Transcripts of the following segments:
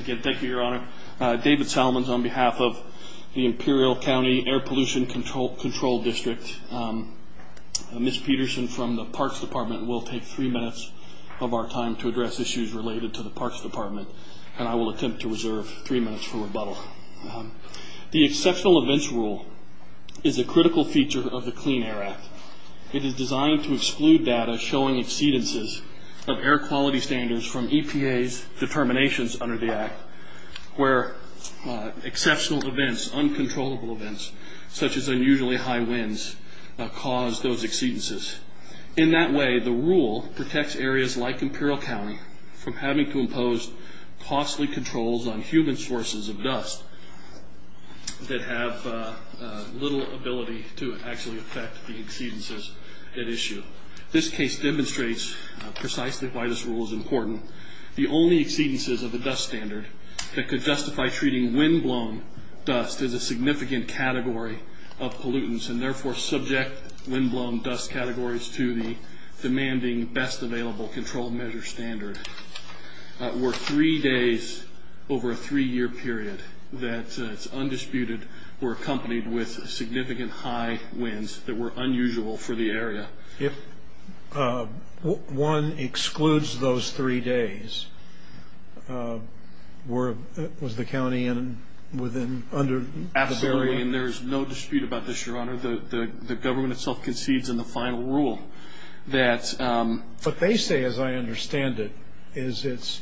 Again, thank you, Your Honor. David Salmons on behalf of the Imperial County Air Pollution Control District. Ms. Peterson from the Parks Department will take three minutes of our time to address issues related to the Parks Department, and I will attempt to reserve three minutes for rebuttal. The Exceptional Events Rule is a critical feature of the Clean Air Act. It is designed to exclude data showing exceedances of air quality standards from EPA's determinations under the act, where exceptional events, uncontrollable events, such as unusually high winds, cause those exceedances. In that way, the rule protects areas like Imperial County from having to impose costly controls on human sources of dust that have little ability to actually affect the exceedances at issue. This case demonstrates precisely why this rule is important. The only exceedances of the dust standard that could justify treating windblown dust as a significant category of pollutants, and therefore subject windblown dust categories to the demanding best available control measure standard, were three days over a three-year period that is undisputed or accompanied with significant high winds that were unusual for the area. If one excludes those three days, was the county under the bare limit? Absolutely, and there is no dispute about this, Your Honor. The government itself concedes in the final rule that... What they say, as I understand it, is it's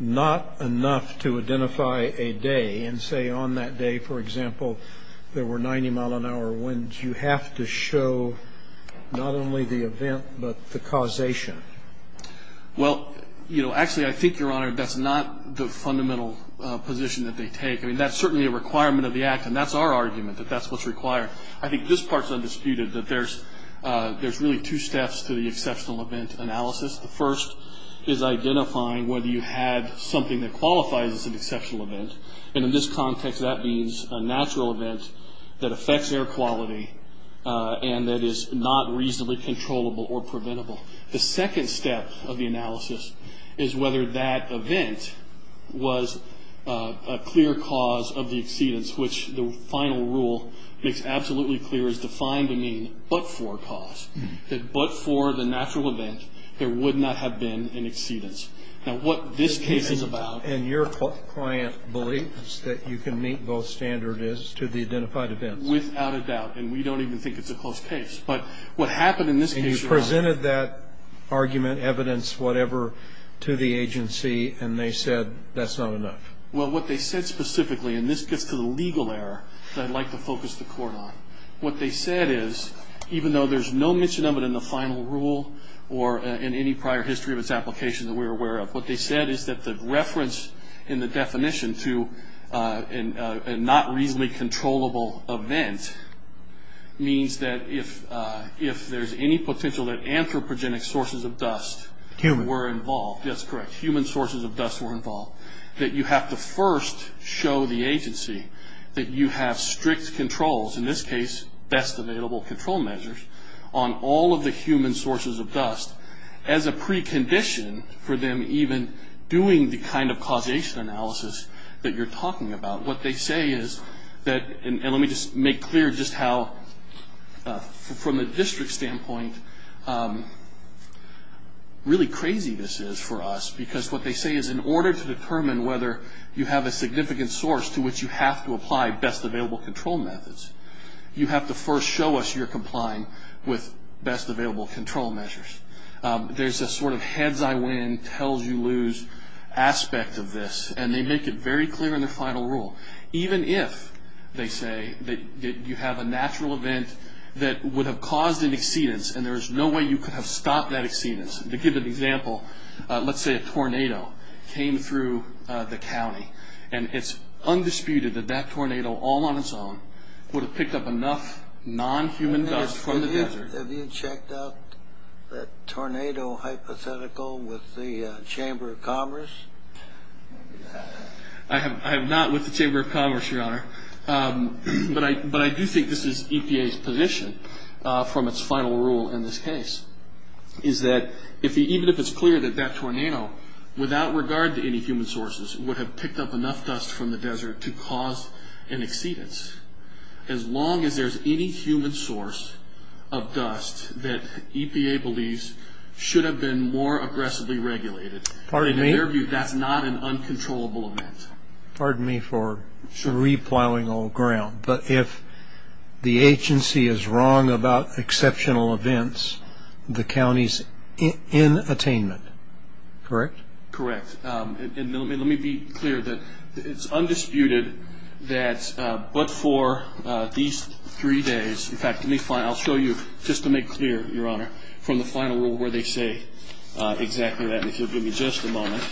not enough to identify a day and say, on that day, for example, there were 90-mile-an-hour winds. You have to show not only the event but the causation. Well, you know, actually, I think, Your Honor, that's not the fundamental position that they take. I mean, that's certainly a requirement of the act, and that's our argument, that that's what's required. I think this part's undisputed, that there's really two steps to the exceptional event analysis. The first is identifying whether you had something that qualifies as an exceptional event, and in this context, that means a natural event that affects air quality and that is not reasonably controllable or preventable. The second step of the analysis is whether that event was a clear cause of the exceedance, which the final rule makes absolutely clear is defined to mean but for cause, that but for the natural event, there would not have been an exceedance. Now, what this case is about... And your client believes that you can meet both standards to the identified events. Without a doubt, and we don't even think it's a close case. But what happened in this case, Your Honor... And you presented that argument, evidence, whatever, to the agency, and they said that's not enough. Well, what they said specifically, and this gets to the legal error that I'd like to focus the court on, what they said is, even though there's no mention of it in the final rule or in any prior history of its application that we're aware of, what they said is that the reference in the definition to a not reasonably controllable event means that if there's any potential that anthropogenic sources of dust were involved... Human. You have to first show the agency that you have strict controls, in this case, best available control measures on all of the human sources of dust as a precondition for them even doing the kind of causation analysis that you're talking about. What they say is that... And let me just make clear just how, from a district standpoint, really crazy this is for us. Because what they say is in order to determine whether you have a significant source to which you have to apply best available control methods, you have to first show us you're complying with best available control measures. There's a sort of heads-I-win, tells-you-lose aspect of this, and they make it very clear in their final rule. Even if, they say, you have a natural event that would have caused an exceedance, and there's no way you could have stopped that exceedance. To give an example, let's say a tornado came through the county, and it's undisputed that that tornado all on its own would have picked up enough non-human dust from the desert. Have you checked out that tornado hypothetical with the Chamber of Commerce? I have not with the Chamber of Commerce, Your Honor. But I do think this is EPA's position from its final rule in this case, is that even if it's clear that that tornado, without regard to any human sources, would have picked up enough dust from the desert to cause an exceedance, as long as there's any human source of dust that EPA believes should have been more aggressively regulated. In their view, that's not an uncontrollable event. Pardon me for re-plowing old ground, but if the agency is wrong about exceptional events, the county's in attainment, correct? Correct. And let me be clear that it's undisputed that but for these three days, in fact, I'll show you, just to make clear, Your Honor, from the final rule where they say exactly that, if you'll give me just a moment.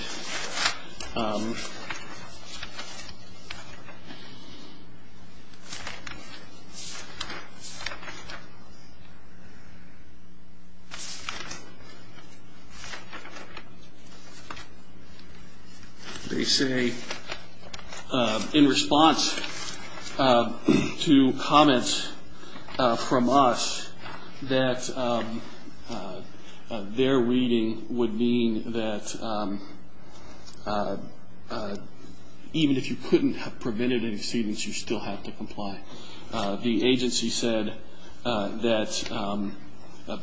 They say in response to comments from us that their reading would mean that even if you couldn't have The agency said that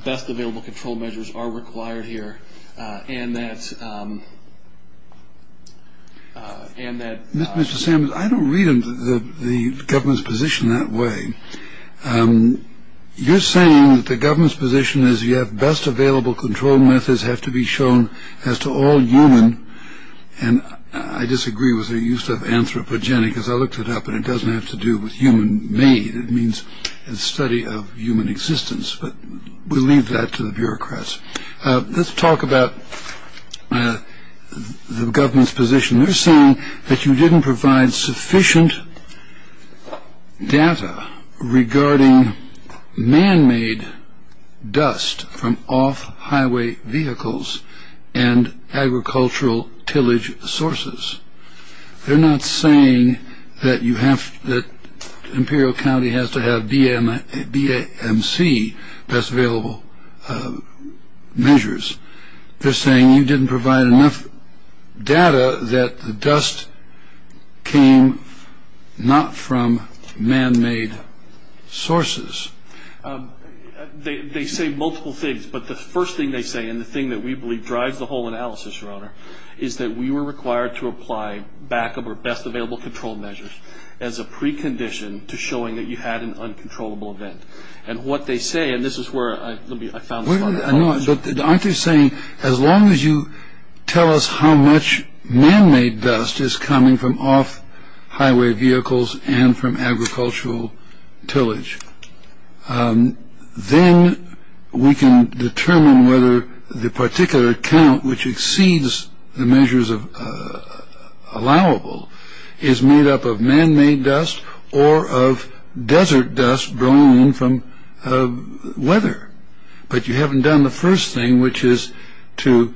best available control measures are required here and that. Mr. Sam, I don't read the government's position that way. You're saying that the government's position is you have best available control methods have to be shown as to all human. And I disagree with the use of anthropogenic as I looked it up. And it doesn't have to do with human made. It means a study of human existence. But we leave that to the bureaucrats. Let's talk about the government's position. They're saying that you didn't provide sufficient data regarding man made dust from off highway vehicles and agricultural tillage sources. They're not saying that you have that. Imperial County has to have DMC best available measures. They're saying you didn't provide enough data that the dust came not from man made sources. They say multiple things. But the first thing they say and the thing that we believe drives the whole analysis, Your Honor, is that we were required to apply backup or best available control measures as a precondition to showing that you had an uncontrollable event. And what they say, and this is where I found. I know. But aren't you saying as long as you tell us how much man made dust is coming from off highway vehicles and from agricultural tillage, then we can determine whether the particular account which exceeds the measures of allowable is made up of man made dust or of desert dust blown from weather. But you haven't done the first thing, which is to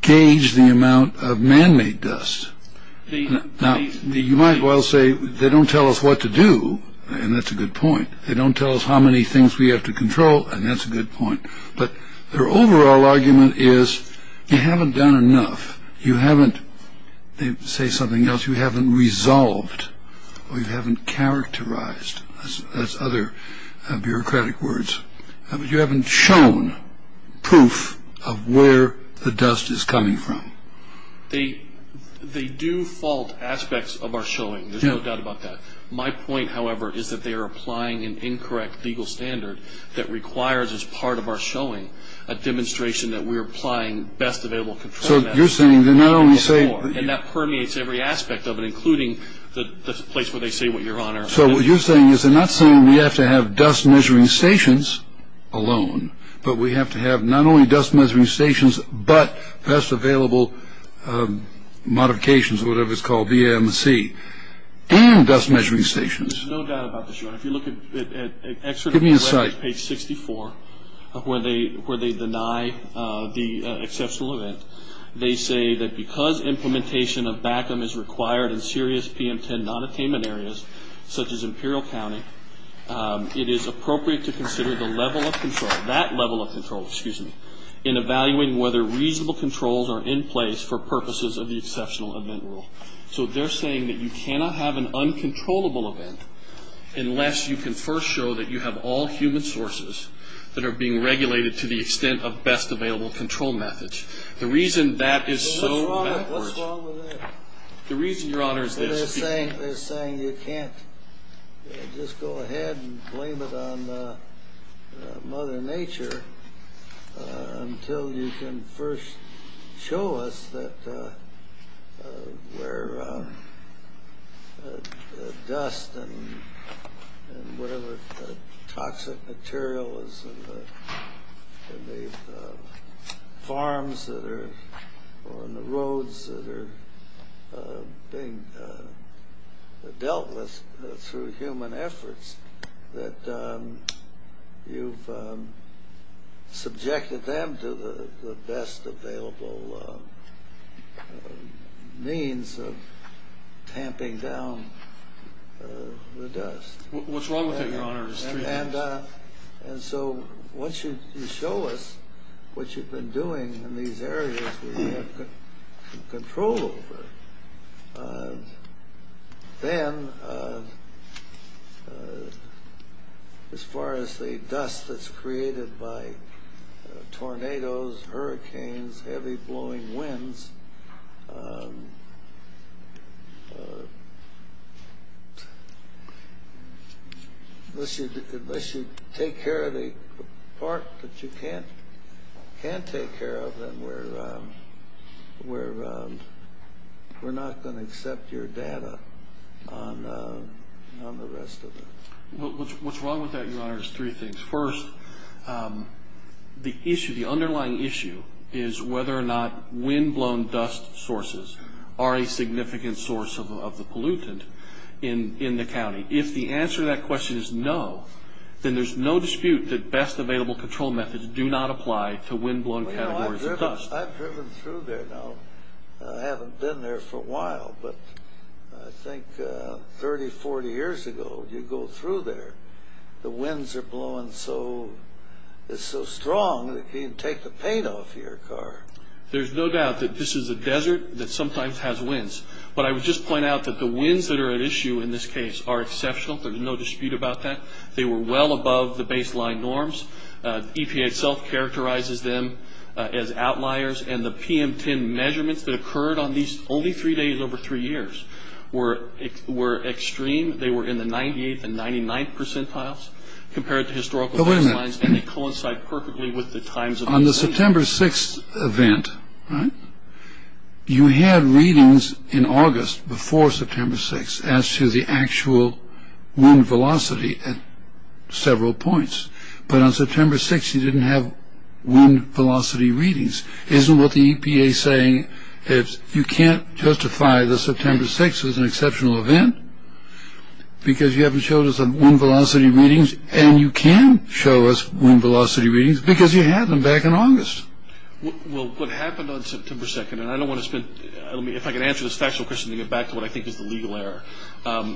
gauge the amount of man made dust. Now, you might well say they don't tell us what to do. And that's a good point. They don't tell us how many things we have to control. And that's a good point. But their overall argument is they haven't done enough. You haven't, they say something else, you haven't resolved or you haven't characterized, as other bureaucratic words. You haven't shown proof of where the dust is coming from. They do fault aspects of our showing. There's no doubt about that. My point, however, is that they are applying an incorrect legal standard that requires as part of our showing a demonstration that we're applying best available control measures. So you're saying they're not only saying that permeates every aspect of it, including the place where they say what you're on. So what you're saying is they're not saying we have to have dust measuring stations alone, but we have to have not only dust measuring stations, but best available modifications, whatever it's called, BMC and dust measuring stations. There's no doubt about this, Your Honor. If you look at excerpt from page 64 where they deny the exceptional event, they say that because implementation of BACM is required in serious PM10 non-attainment areas, such as Imperial County, it is appropriate to consider the level of control, that level of control, excuse me, in evaluating whether reasonable controls are in place for purposes of the exceptional event rule. So they're saying that you cannot have an uncontrollable event unless you can first show that you have all human sources that are being regulated to the extent of best available control methods. The reason that is so backwards. What's wrong with that? The reason, Your Honor, is this. They're saying you can't just go ahead and blame it on Mother Nature until you can first show us that where dust and whatever toxic material is in the farms or in the roads that are being dealt with through human efforts, that you've subjected them to the best available means of tamping down the dust. What's wrong with that, Your Honor? And so once you show us what you've been doing in these areas that you have control over, then as far as the dust that's created by tornadoes, hurricanes, heavy blowing winds, unless you take care of the part that you can't take care of, then we're not going to accept your data on the rest of it. What's wrong with that, Your Honor, is three things. First, the underlying issue is whether or not windblown dust sources are a significant source of the pollutant in the county. If the answer to that question is no, then there's no dispute that best available control methods do not apply to windblown categories of dust. I've driven through there now. I haven't been there for a while. But I think 30, 40 years ago, you go through there, the winds are blowing so strong that you can't take the paint off your car. There's no doubt that this is a desert that sometimes has winds. But I would just point out that the winds that are at issue in this case are exceptional. There's no dispute about that. They were well above the baseline norms. EPA itself characterizes them as outliers. And the PM10 measurements that occurred on these only three days over three years were extreme. They were in the 98th and 99th percentiles compared to historical. And they coincide perfectly with the times. On the September 6th event, you had readings in August before September 6th as to the actual wind velocity at several points. But on September 6th, you didn't have wind velocity readings. Isn't what the EPA is saying is you can't justify the September 6th as an exceptional event because you haven't showed us the wind velocity readings. And you can show us wind velocity readings because you had them back in August. Well, what happened on September 2nd, and I don't want to spend. If I can answer this factual question to get back to what I think is the legal error.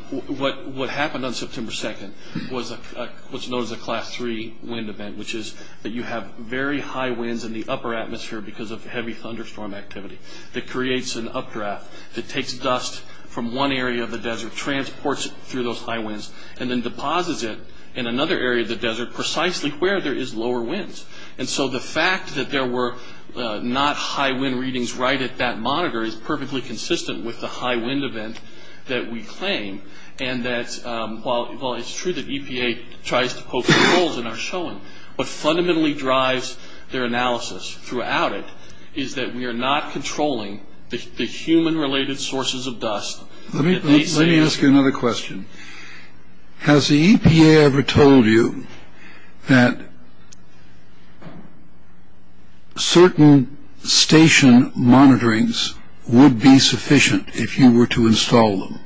What happened on September 2nd was known as a Class III wind event, which is that you have very high winds in the upper atmosphere because of heavy thunderstorm activity that creates an updraft that takes dust from one area of the desert, transports it through those high winds, and then deposits it in another area of the desert precisely where there is lower winds. And so the fact that there were not high wind readings right at that monitor is perfectly consistent with the high wind event that we claim. And that's why it's true that EPA tries to poke holes in our showing. What fundamentally drives their analysis throughout it is that we are not controlling the human related sources of dust. Let me ask you another question. Has the EPA ever told you that certain station monitorings would be sufficient if you were to install them?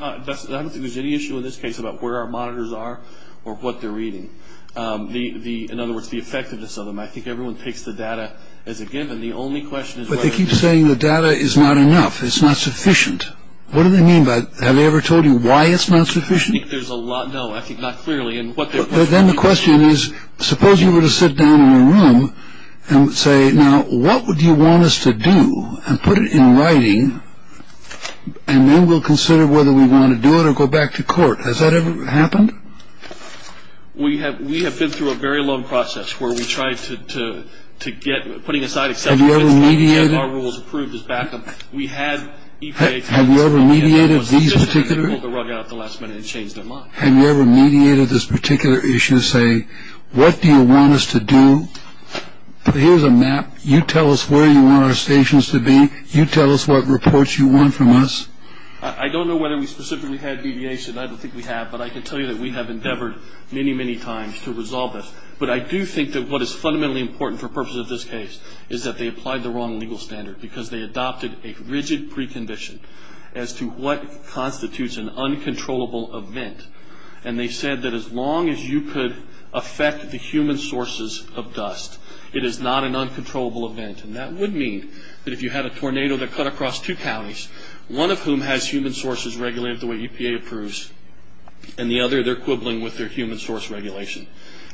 I don't think there's any issue in this case about where our monitors are or what they're reading. In other words, the effectiveness of them. I think everyone takes the data as a given. But they keep saying the data is not enough. It's not sufficient. What do they mean by that? Have they ever told you why it's not sufficient? I think there's a lot. No, I think not clearly. But then the question is, suppose you were to sit down in a room and say, now what would you want us to do and put it in writing and then we'll consider whether we want to do it or go back to court. Has that ever happened? We have. We have been through a very long process where we tried to get putting aside. Have you ever mediated? Our rules approved as backup. We had EPA. Have you ever mediated these particular? Pulled the rug out at the last minute and changed their mind. Have you ever mediated this particular issue to say, what do you want us to do? Here's a map. You tell us where you want our stations to be. You tell us what reports you want from us. I don't know whether we specifically had deviation. I don't think we have. But I can tell you that we have endeavored many, many times to resolve this. But I do think that what is fundamentally important for purposes of this case is that they applied the wrong legal standard because they adopted a rigid precondition as to what constitutes an uncontrollable event. And they said that as long as you could affect the human sources of dust, it is not an uncontrollable event. And that would mean that if you had a tornado that cut across two counties, one of whom has human sources regulated the way EPA approves, and the other they're quibbling with their human source regulation,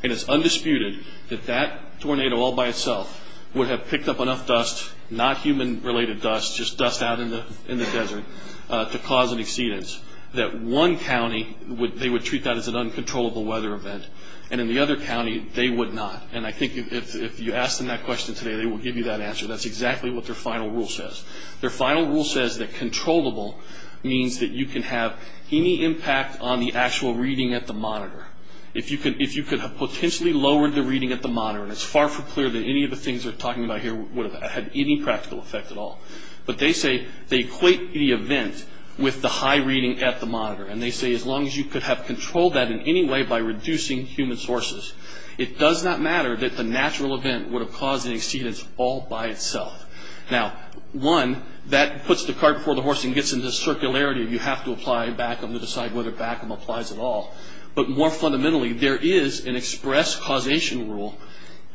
and it's undisputed that that tornado all by itself would have picked up enough dust, not human-related dust, just dust out in the desert, to cause an exceedance, that one county they would treat that as an uncontrollable weather event, and in the other county they would not. And I think if you ask them that question today, they will give you that answer. That's exactly what their final rule says. Their final rule says that controllable means that you can have any impact on the actual reading at the monitor. If you could have potentially lowered the reading at the monitor, and it's far from clear that any of the things they're talking about here would have had any practical effect at all, but they say they equate the event with the high reading at the monitor, and they say as long as you could have controlled that in any way by reducing human sources, it does not matter that the natural event would have caused an exceedance all by itself. Now, one, that puts the cart before the horse and gets into circularity. You have to apply BACM to decide whether BACM applies at all. But more fundamentally, there is an express causation rule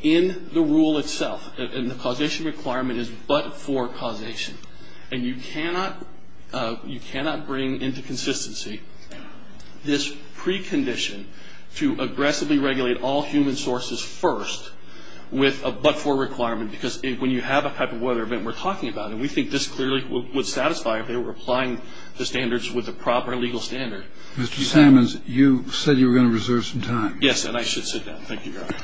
in the rule itself, and the causation requirement is but-for causation. And you cannot bring into consistency this precondition to aggressively regulate all human sources first with a but-for requirement, because when you have a type of weather event we're talking about, and we think this clearly would satisfy if they were applying the standards with the proper legal standard. Mr. Sammons, you said you were going to reserve some time. Yes, and I should sit down. Thank you, Your Honor.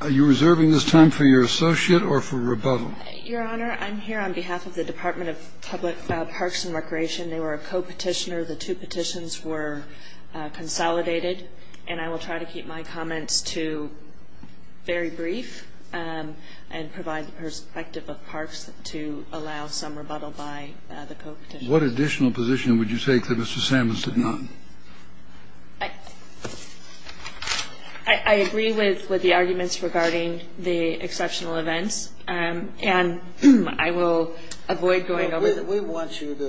Are you reserving this time for your associate or for rebuttal? Your Honor, I'm here on behalf of the Department of Public Parks and Recreation. They were a co-petitioner. The two petitions were consolidated, and I will try to keep my comments to very brief and provide the perspective of parks to allow some rebuttal by the co-petitioners. What additional position would you take that Mr. Sammons did not? I agree with the arguments regarding the exceptional events, and I will avoid going over them. We want you to,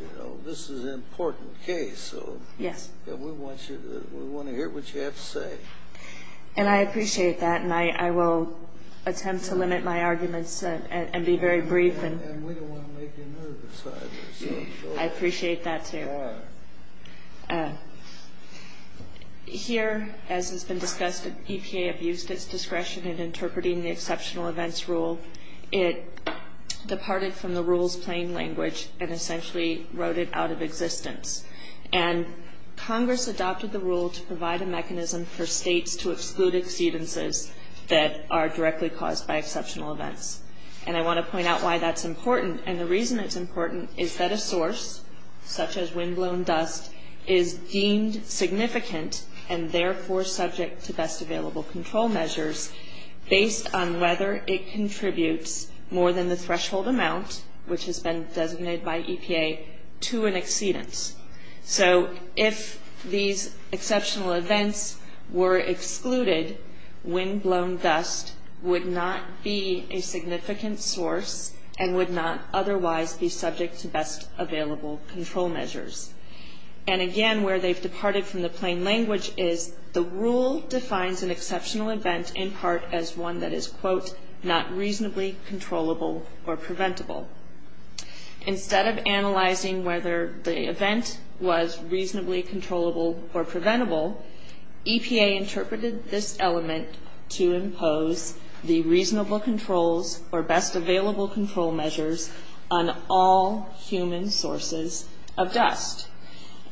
you know, this is an important case. Yes. We want to hear what you have to say. And I appreciate that, and I will attempt to limit my arguments and be very brief. And we don't want to make you nervous either. I appreciate that too. Here, as has been discussed, EPA abused its discretion in interpreting the exceptional events rule. It departed from the rule's plain language and essentially wrote it out of existence. And Congress adopted the rule to provide a mechanism for states to exclude exceedances that are directly caused by exceptional events. And I want to point out why that's important. And the reason it's important is that a source, such as windblown dust, is deemed significant and therefore subject to best available control measures based on whether it contributes more than the threshold amount, which has been designated by EPA, to an exceedance. So if these exceptional events were excluded, windblown dust would not be a significant source and would not otherwise be subject to best available control measures. And again, where they've departed from the plain language is the rule defines an exceptional event in part as one that is, quote, not reasonably controllable or preventable. Instead of analyzing whether the event was reasonably controllable or preventable, EPA interpreted this element to impose the reasonable controls or best available control measures on all human sources of dust.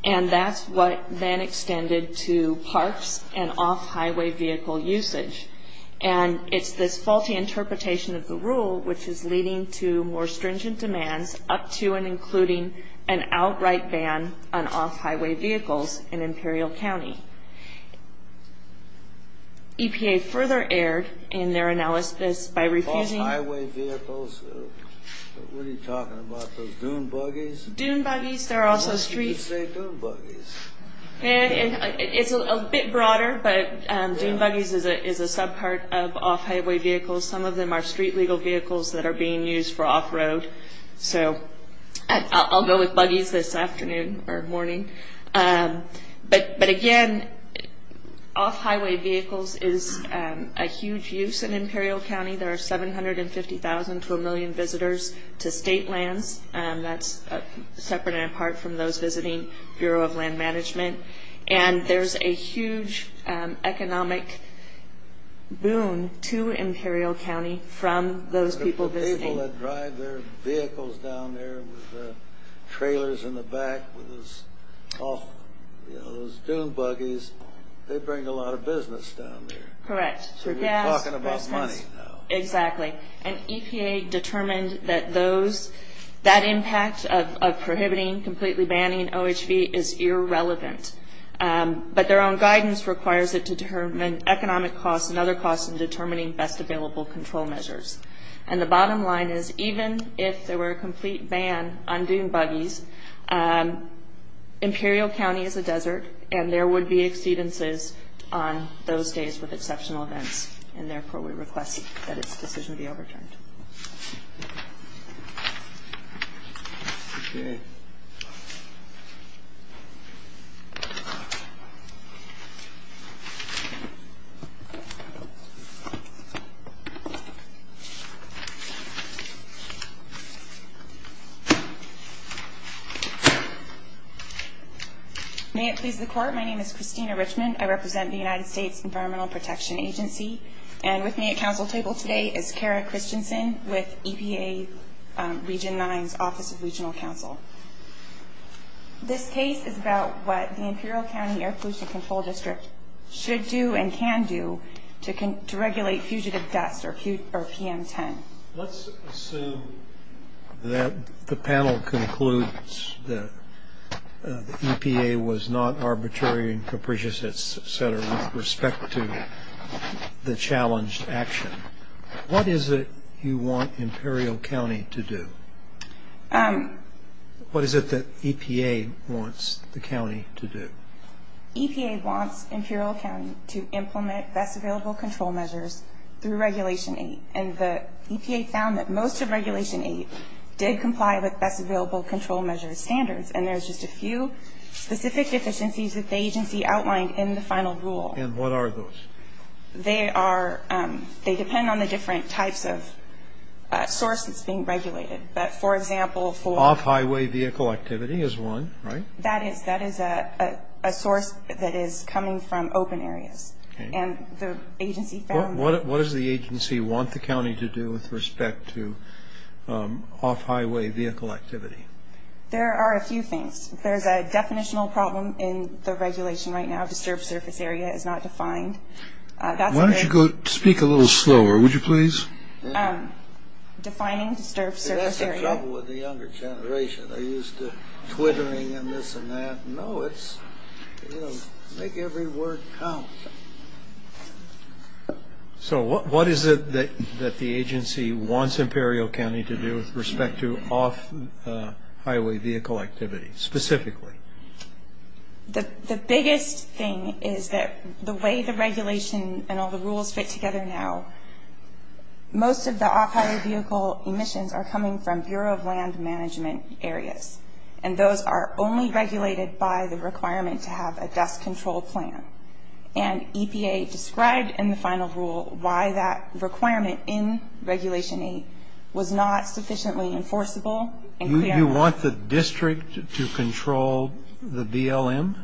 And that's what then extended to parks and off-highway vehicle usage. And it's this faulty interpretation of the rule which is leading to more stringent demands up to and including an outright ban on off-highway vehicles in Imperial County. EPA further erred in their analysis by refusing- Off-highway vehicles? What are you talking about? Those dune buggies? Dune buggies. There are also streets- Why didn't you say dune buggies? It's a bit broader, but dune buggies is a subpart of off-highway vehicles. Some of them are street-legal vehicles that are being used for off-road. So I'll go with buggies this afternoon or morning. But again, off-highway vehicles is a huge use in Imperial County. There are 750,000 to a million visitors to state lands. That's separate and apart from those visiting Bureau of Land Management. And there's a huge economic boon to Imperial County from those people visiting. The people that drive their vehicles down there with the trailers in the back, those dune buggies, they bring a lot of business down there. Correct. So you're talking about money now. Exactly. And EPA determined that those, that impact of prohibiting, completely banning OHV is irrelevant. But their own guidance requires it to determine economic costs and other costs in determining best available control measures. And the bottom line is even if there were a complete ban on dune buggies, Imperial County is a desert and there would be exceedances on those days with exceptional events. And therefore, we request that this decision be overturned. May it please the Court. My name is Christina Richmond. I represent the United States Environmental Protection Agency. And with me at counsel table today is Kara Christensen with EPA Region 9's Office of Regional Counsel. This case is about what the Imperial County Air Pollution Control District should do and can do to regulate fugitive dust or PM10. Let's assume that the panel concludes that EPA was not arbitrary and capricious, et cetera, with respect to the challenged action. What is it you want Imperial County to do? What is it that EPA wants the county to do? EPA wants Imperial County to implement best available control measures through Regulation 8. And the EPA found that most of Regulation 8 did comply with best available control measures standards. And there's just a few specific deficiencies that the agency outlined in the final rule. And what are those? They are they depend on the different types of sources being regulated. But, for example, for Off-highway vehicle activity is one, right? That is a source that is coming from open areas. And the agency found What does the agency want the county to do with respect to off-highway vehicle activity? There are a few things. There's a definitional problem in the regulation right now. Disturbed surface area is not defined. Why don't you go speak a little slower, would you please? Defining disturbed surface area. That's the trouble with the younger generation. They're used to twittering and this and that. No, it's, you know, make every word count. So what is it that the agency wants Imperial County to do with respect to off-highway vehicle activity, specifically? The biggest thing is that the way the regulation and all the rules fit together now, most of the off-highway vehicle emissions are coming from Bureau of Land Management areas. And those are only regulated by the requirement to have a dust control plan. And EPA described in the final rule why that requirement in Regulation 8 was not sufficiently enforceable. You want the district to control the BLM?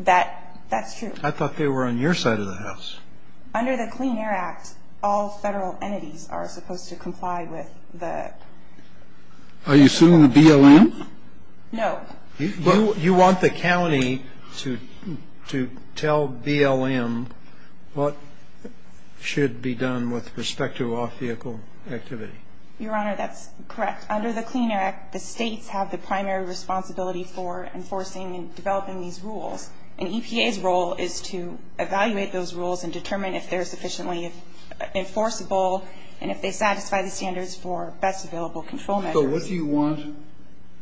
That's true. I thought they were on your side of the house. Under the Clean Air Act, all federal entities are supposed to comply with the Are you suing the BLM? No. You want the county to tell BLM what should be done with respect to off-vehicle activity? Your Honor, that's correct. Under the Clean Air Act, the states have the primary responsibility for enforcing and developing these rules. And EPA's role is to evaluate those rules and determine if they're sufficiently enforceable and if they satisfy the standards for best available control measures. So what do you want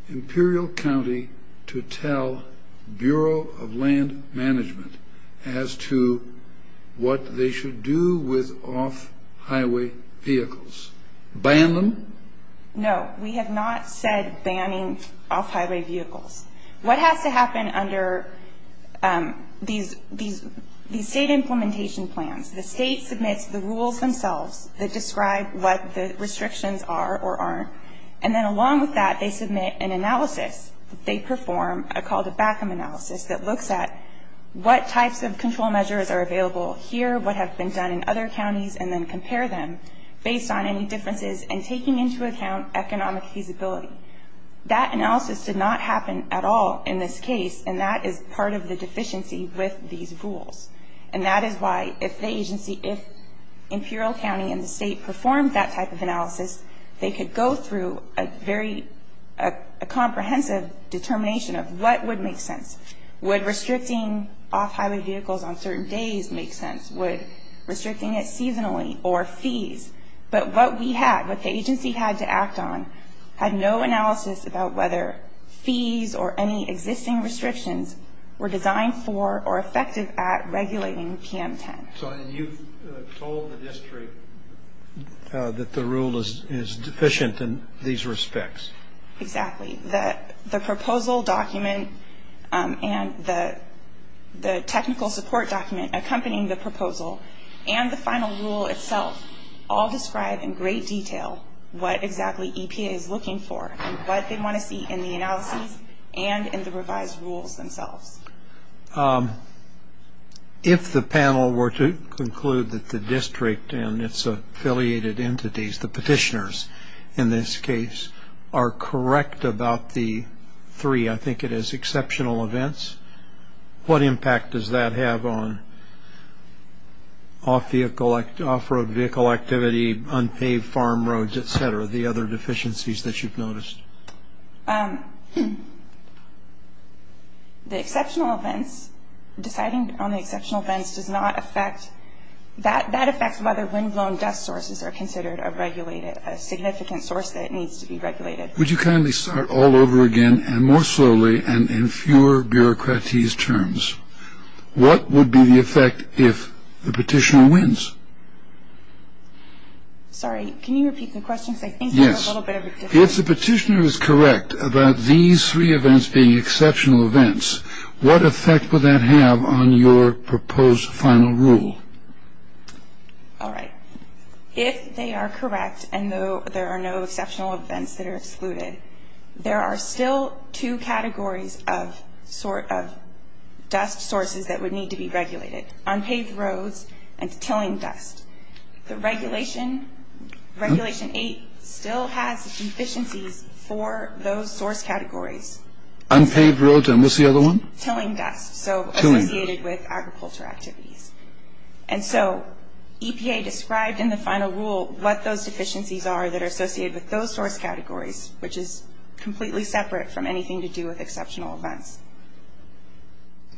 Imperial County to tell Bureau of Land Management as to what they should do with off-highway vehicles? Ban them? No. We have not said banning off-highway vehicles. What has to happen under these state implementation plans, the state submits the rules themselves that describe what the restrictions are or aren't, and then along with that, they submit an analysis that they perform, called a back-up analysis that looks at what types of control measures are available here, what have been done in other counties, and then compare them based on any differences and taking into account economic feasibility. That analysis did not happen at all in this case, and that is part of the deficiency with these rules. And that is why if the agency, if Imperial County and the state performed that type of analysis, they could go through a very comprehensive determination of what would make sense. Would restricting off-highway vehicles on certain days make sense? Would restricting it seasonally or fees? But what we had, what the agency had to act on, had no analysis about whether fees or any existing restrictions were designed for or effective at regulating PM10. So you've told the district that the rule is deficient in these respects. Exactly. The proposal document and the technical support document accompanying the proposal and the final rule itself all describe in great detail what exactly EPA is looking for and what they want to see in the analysis and in the revised rules themselves. If the panel were to conclude that the district and its affiliated entities, the petitioners in this case, are correct about the three, I think it is, exceptional events, what impact does that have on off-road vehicle activity, unpaved farm roads, et cetera, the other deficiencies that you've noticed? The exceptional events, deciding on the exceptional events does not affect, that affects whether windblown dust sources are considered a regulated, a significant source that needs to be regulated. Would you kindly start all over again and more slowly and in fewer bureaucratese terms. What would be the effect if the petitioner wins? Sorry, can you repeat the question? Yes. If the petitioner is correct about these three events being exceptional events, what effect would that have on your proposed final rule? All right. If they are correct and there are no exceptional events that are excluded, there are still two categories of dust sources that would need to be regulated, unpaved roads and tilling dust. The Regulation 8 still has deficiencies for those source categories. Unpaved roads, and what's the other one? Tilling dust, so associated with agriculture activities. And so EPA described in the final rule what those deficiencies are that are associated with those source categories, which is completely separate from anything to do with exceptional events.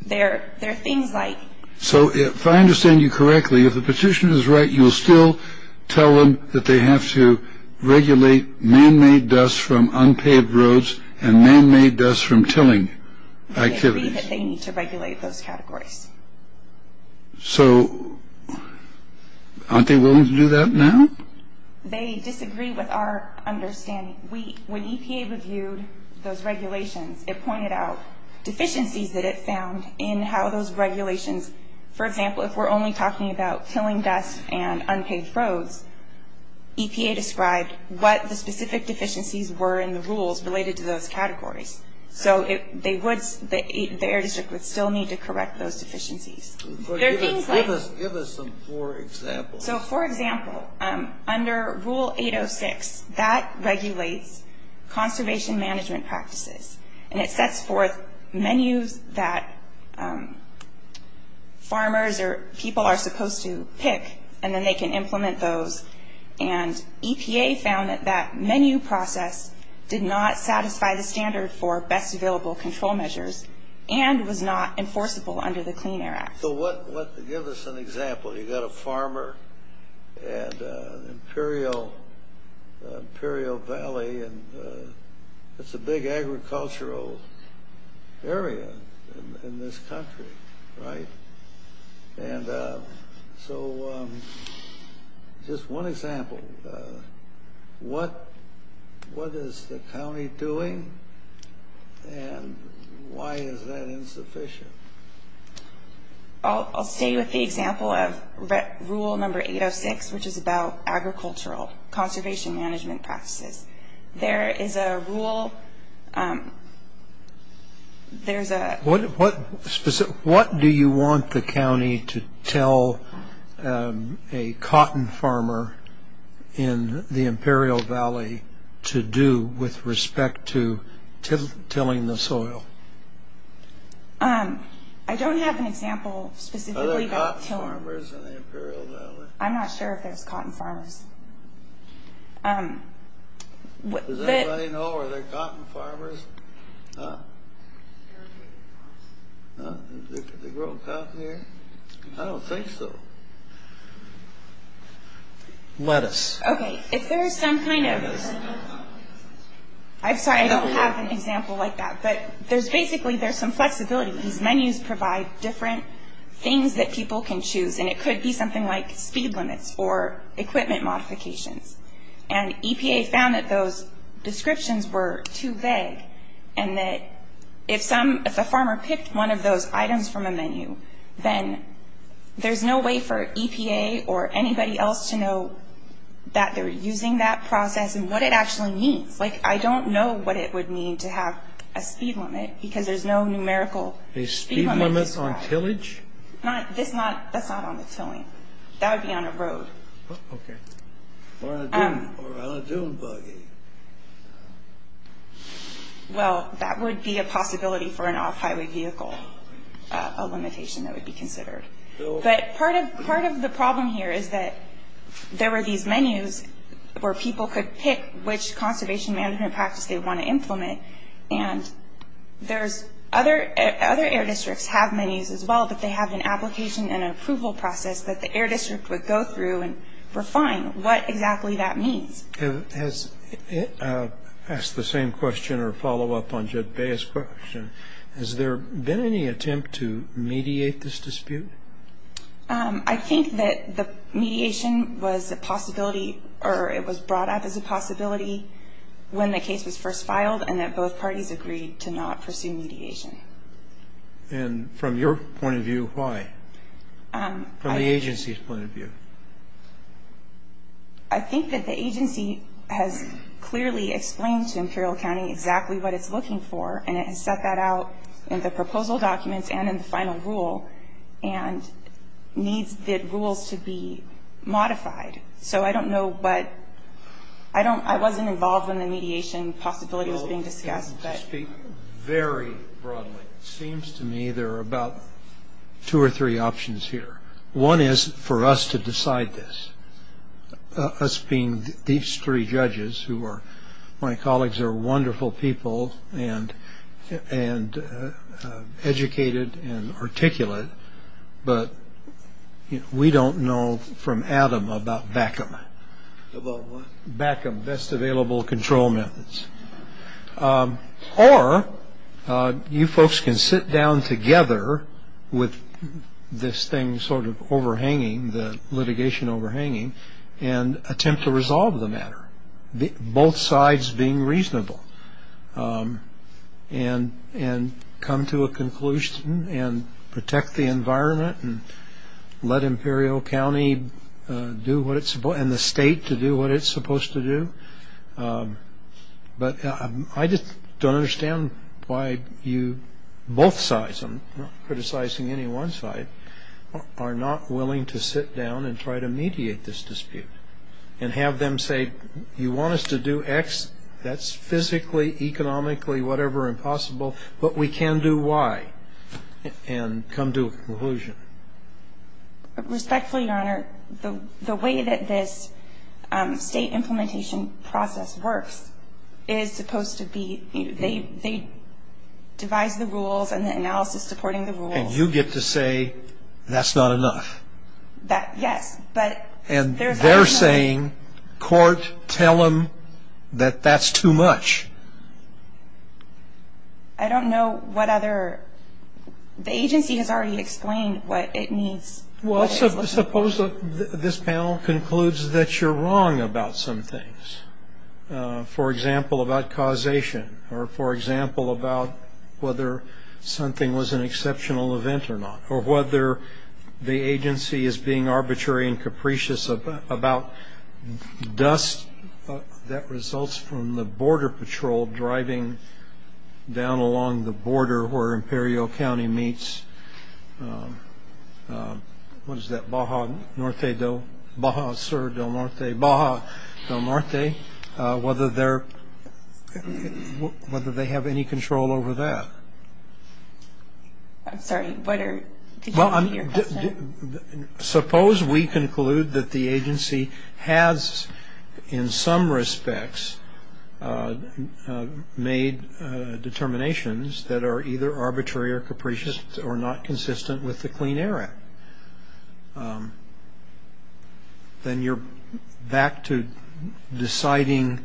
There are things like. So if I understand you correctly, if the petitioner is right, you will still tell them that they have to regulate man-made dust from unpaved roads and man-made dust from tilling activities. They need to regulate those categories. So aren't they willing to do that now? They disagree with our understanding. When EPA reviewed those regulations, it pointed out deficiencies that it found in how those regulations. For example, if we're only talking about tilling dust and unpaved roads, EPA described what the specific deficiencies were in the rules related to those categories. So the Air District would still need to correct those deficiencies. Give us some poor examples. So, for example, under Rule 806, that regulates conservation management practices, and it sets forth menus that farmers or people are supposed to pick, and then they can implement those. And EPA found that that menu process did not satisfy the standard for best available control measures and was not enforceable under the Clean Air Act. So give us an example. You've got a farmer at Imperial Valley, and it's a big agricultural area in this country, right? And so just one example. What is the county doing, and why is that insufficient? I'll stay with the example of Rule No. 806, which is about agricultural conservation management practices. There is a rule. What do you want the county to tell a cotton farmer in the Imperial Valley to do with respect to tilling the soil? I don't have an example specifically about tilling. Are there cotton farmers in the Imperial Valley? I'm not sure if there's cotton farmers. Does anybody know? Are there cotton farmers? Huh? They grow cotton here? I don't think so. Lettuce. Okay, if there is some kind of – I'm sorry, I don't have an example like that. But there's basically – there's some flexibility. These menus provide different things that people can choose, and it could be something like speed limits or equipment modifications. And EPA found that those descriptions were too vague, and that if a farmer picked one of those items from a menu, then there's no way for EPA or anybody else to know that they're using that process and what it actually means. Like, I don't know what it would mean to have a speed limit because there's no numerical speed limit. Are speed limits on tillage? That's not on the tilling. That would be on a road. Okay. Or on a dune buggy. Well, that would be a possibility for an off-highway vehicle, a limitation that would be considered. But part of the problem here is that there were these menus where people could pick which conservation management practice they want to implement, and there's other – other air districts have menus as well, but they have an application and an approval process that the air district would go through and refine what exactly that means. I was asked the same question or follow-up on Jet Bae's question. Has there been any attempt to mediate this dispute? I think that the mediation was a possibility, or it was brought up as a possibility when the case was first filed and that both parties agreed to not pursue mediation. And from your point of view, why? From the agency's point of view. I think that the agency has clearly explained to Imperial County exactly what it's looking for, and it has set that out in the proposal documents and in the final rule and needs the rules to be modified. So I don't know what – I wasn't involved when the mediation possibility was being discussed. To speak very broadly, it seems to me there are about two or three options here. One is for us to decide this, us being these three judges who are – my colleagues are wonderful people and educated and articulate, but we don't know from Adam about BACM, Best Available Control Methods. Or you folks can sit down together with this thing sort of overhanging, the litigation overhanging, and attempt to resolve the matter, both sides being reasonable, and come to a conclusion and protect the environment and let Imperial County do what it's – and the state to do what it's supposed to do. But I just don't understand why you – both sides, I'm not criticizing any one side – are not willing to sit down and try to mediate this dispute and have them say, you want us to do X, that's physically, economically, whatever, impossible, but we can do Y, and come to a conclusion. Respectfully, Your Honor, the way that this state implementation process works is supposed to be – they devise the rules and the analysis supporting the rules. And you get to say, that's not enough. Yes. And they're saying, court, tell them that that's too much. I don't know what other – the agency has already explained what it means. Well, suppose this panel concludes that you're wrong about some things. For example, about causation, or for example, about whether something was an exceptional event or not, or whether the agency is being arbitrary and capricious about dust that results from the Border Patrol driving down along the border where Imperial County meets – what is that, Baja Norte del – Baja Sur del Norte, Baja del Norte, whether they're – whether they have any control over that. I'm sorry, what are – did you repeat your question? Suppose we conclude that the agency has, in some respects, made determinations that are either arbitrary or capricious or not consistent with the Clean Air Act. Then you're back to deciding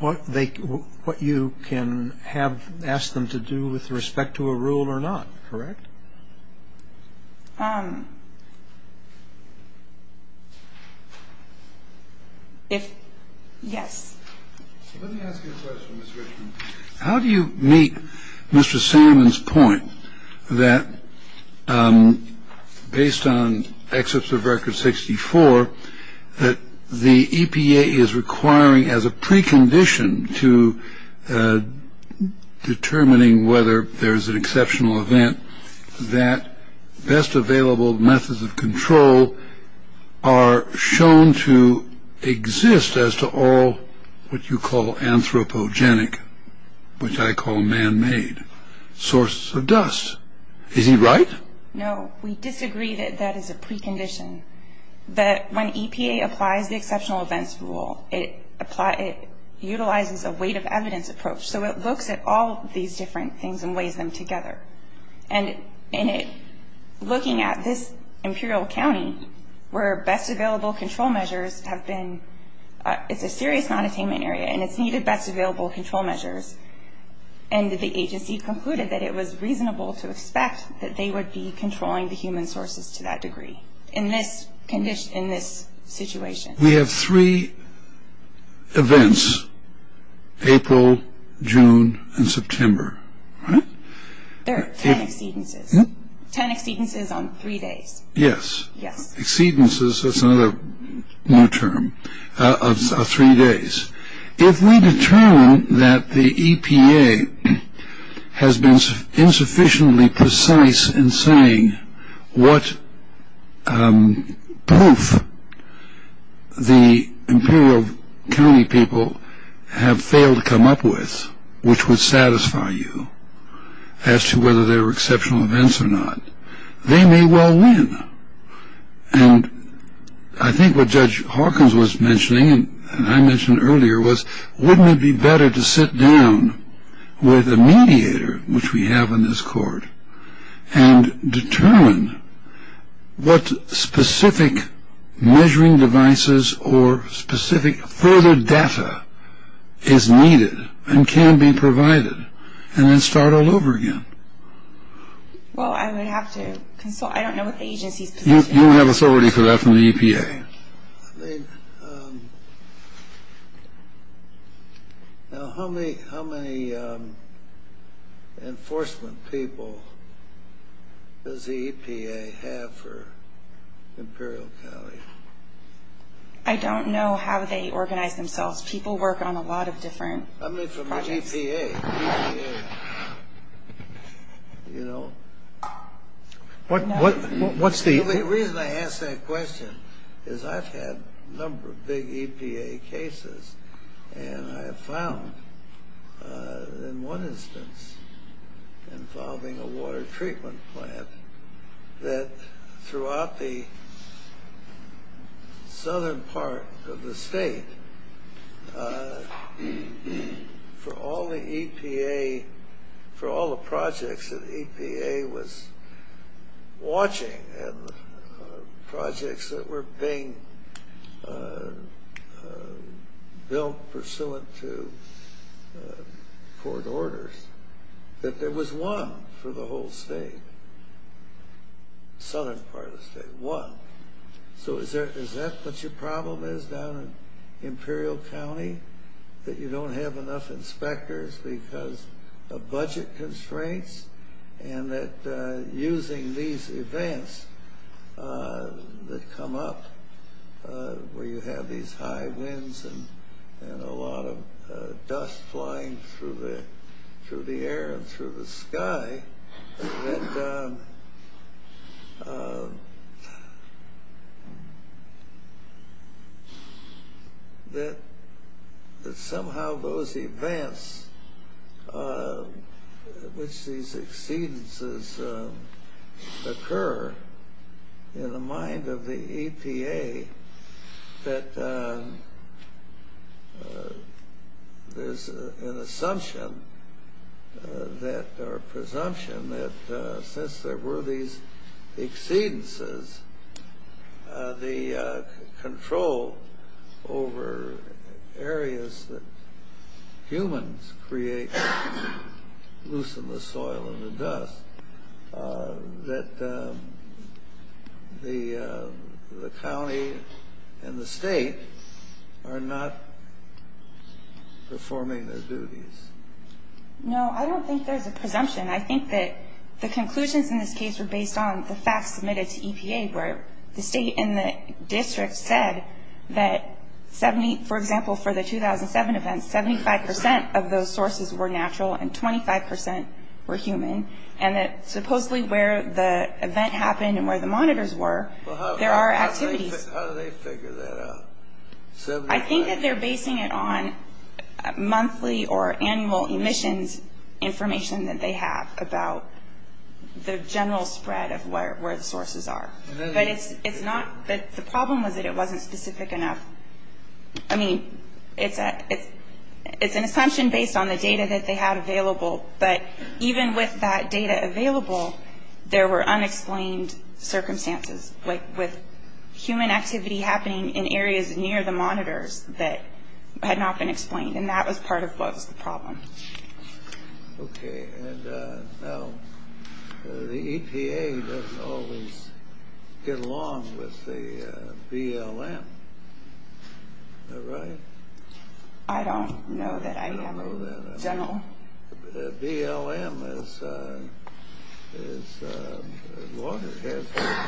what they – what you can have – ask them to do with respect to a rule or not, correct? If – yes. Let me ask you a question, Ms. Richmond. How do you meet Mr. Salmon's point that, based on excerpts of Record 64, that the EPA is requiring as a precondition to determining whether there is an exceptional event, that best available methods of control are shown to exist as to all what you call anthropogenic, which I call man-made sources of dust? Is he right? No, we disagree that that is a precondition, that when EPA applies the exceptional events rule, it utilizes a weight of evidence approach. So it looks at all these different things and weighs them together. And in it, looking at this Imperial County, where best available control measures have been – it's a serious non-attainment area and it's needed best available control measures, and the agency concluded that it was reasonable to expect that they would be controlling the human sources to that degree, in this situation. We have three events, April, June, and September, right? There are ten exceedances. Ten exceedances on three days. Yes. Yes. Exceedances, that's another new term, are three days. If we determine that the EPA has been insufficiently precise in saying what proof the Imperial County people have failed to come up with, which would satisfy you as to whether they were exceptional events or not, they may well win. And I think what Judge Hawkins was mentioning, and I mentioned earlier, was wouldn't it be better to sit down with a mediator, which we have in this court, and determine what specific measuring devices or specific further data is needed and can be provided, and then start all over again? Well, I would have to consult. I don't know what the agency's position is. You don't have authority for that from the EPA. I mean, now how many enforcement people does the EPA have for Imperial County? I don't know how they organize themselves. People work on a lot of different projects. I mean, from the EPA, you know. What's the… The reason I ask that question is I've had a number of big EPA cases, and I have found in one instance involving a water treatment plant that throughout the southern part of the state, for all the EPA, for all the projects that EPA was watching, and projects that were being built pursuant to court orders, that there was one for the whole state, southern part of the state, one. So is that what your problem is down in Imperial County, that you don't have enough inspectors because of budget constraints, and that using these events that come up, where you have these high winds and a lot of dust flying through the air and through the sky, that somehow those events, which these exceedances occur, in the mind of the EPA, that there's an assumption or presumption that since there were these exceedances, the control over areas that humans create to loosen the soil and the dust, that the county and the state are not performing their duties? No, I don't think there's a presumption. I think that the conclusions in this case were based on the facts submitted to EPA, where the state and the district said that, for example, for the 2007 events, 75% of those sources were natural and 25% were human, and that supposedly where the event happened and where the monitors were, there are activities. How do they figure that out? I think that they're basing it on monthly or annual emissions information that they have about the general spread of where the sources are. But the problem was that it wasn't specific enough. I mean, it's an assumption based on the data that they have available, but even with that data available, there were unexplained circumstances, like with human activity happening in areas near the monitors that had not been explained, and that was part of what was the problem. Okay, and now the EPA doesn't always get along with the BLM, is that right? I don't know that I have a general... BLM has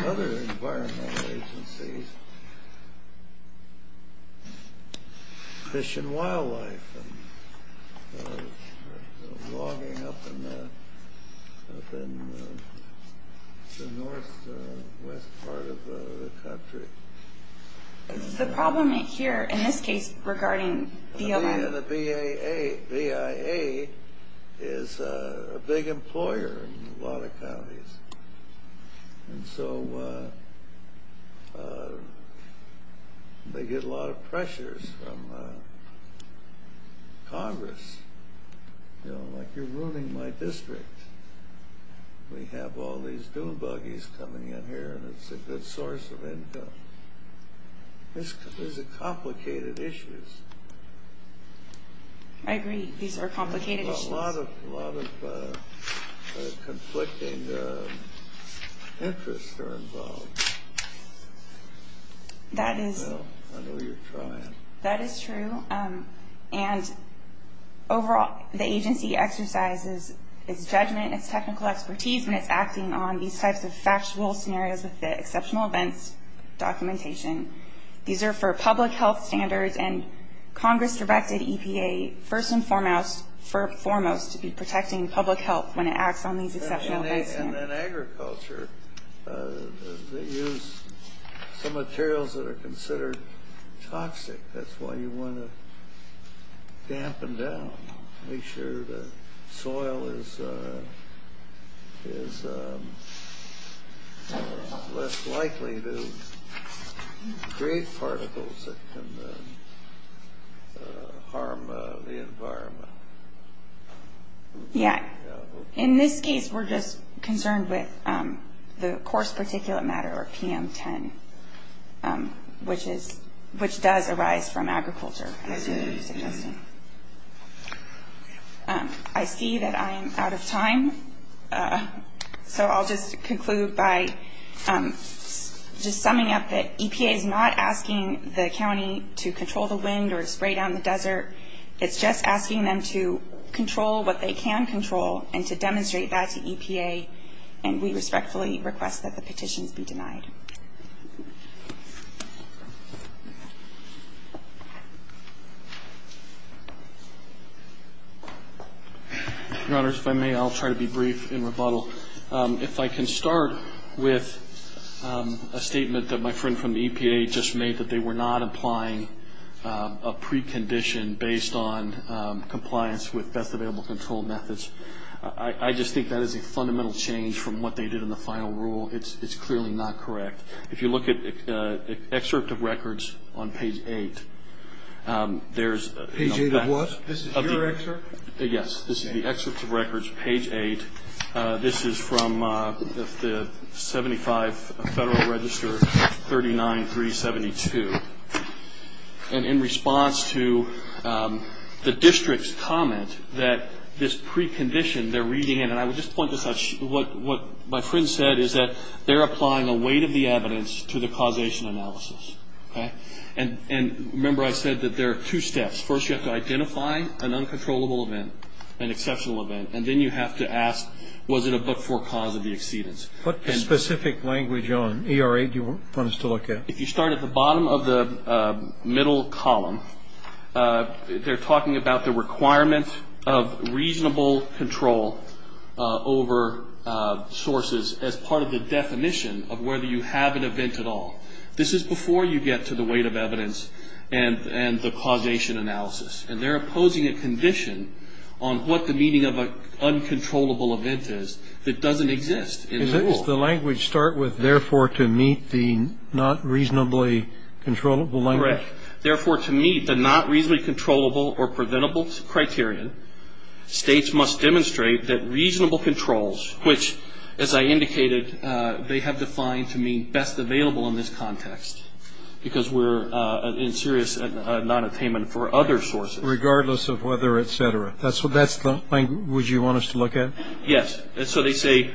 other environmental agencies. Fish and wildlife are logging up in the northwest part of the country. The problem here, in this case, regarding BLM... Again, the BIA is a big employer in a lot of counties, and so they get a lot of pressures from Congress. You know, like, you're ruining my district. We have all these dune buggies coming in here, and it's a good source of income. These are complicated issues. I agree. These are complicated issues. A lot of conflicting interests are involved. That is... I know you're trying. That is true, and overall, the agency exercises its judgment, its technical expertise when it's acting on these types of factual scenarios with the exceptional events documentation. These are for public health standards, and Congress directed EPA, first and foremost, to be protecting public health when it acts on these exceptional events. In agriculture, they use some materials that are considered toxic. That's why you want to dampen down, make sure the soil is less likely to create particles that can harm the environment. Yeah. In this case, we're just concerned with the coarse particulate matter, or PM10, which does arise from agriculture, as you were suggesting. I see that I am out of time, so I'll just conclude by just summing up that EPA is not asking the county to control the wind or spray down the desert. It's just asking them to control what they can control and to demonstrate that to EPA, and we respectfully request that the petitions be denied. Your Honor, if I may, I'll try to be brief in rebuttal. If I can start with a statement that my friend from the EPA just made, that they were not applying a precondition based on compliance with best available control methods. I just think that is a fundamental change from what they did in the final rule. It's clearly not correct. If you look at excerpt of records on page 8, there's a fact of the excerpt. Mr. Baker? Yes, this is the excerpt of records, page 8. This is from the 75 Federal Register 39372. And in response to the district's comment that this precondition they're reading in, and I would just point this out. What my friend said is that they're applying a weight of the evidence to the causation analysis. And remember I said that there are two steps. First you have to identify an uncontrollable event, an exceptional event, and then you have to ask was it a but-for cause of the exceedance. What specific language on ERA do you want us to look at? If you start at the bottom of the middle column, they're talking about the requirement of reasonable control over sources as part of the definition of whether you have an event at all. This is before you get to the weight of evidence and the causation analysis. And they're opposing a condition on what the meaning of an uncontrollable event is that doesn't exist in the rule. Does the language start with, therefore, to meet the not reasonably controllable language? Correct. Therefore, to meet the not reasonably controllable or preventable criterion, states must demonstrate that reasonable controls, which, as I indicated, they have defined to mean best available in this context because we're in serious nonattainment for other sources. Regardless of whether, et cetera. That's the language you want us to look at? Yes. So they say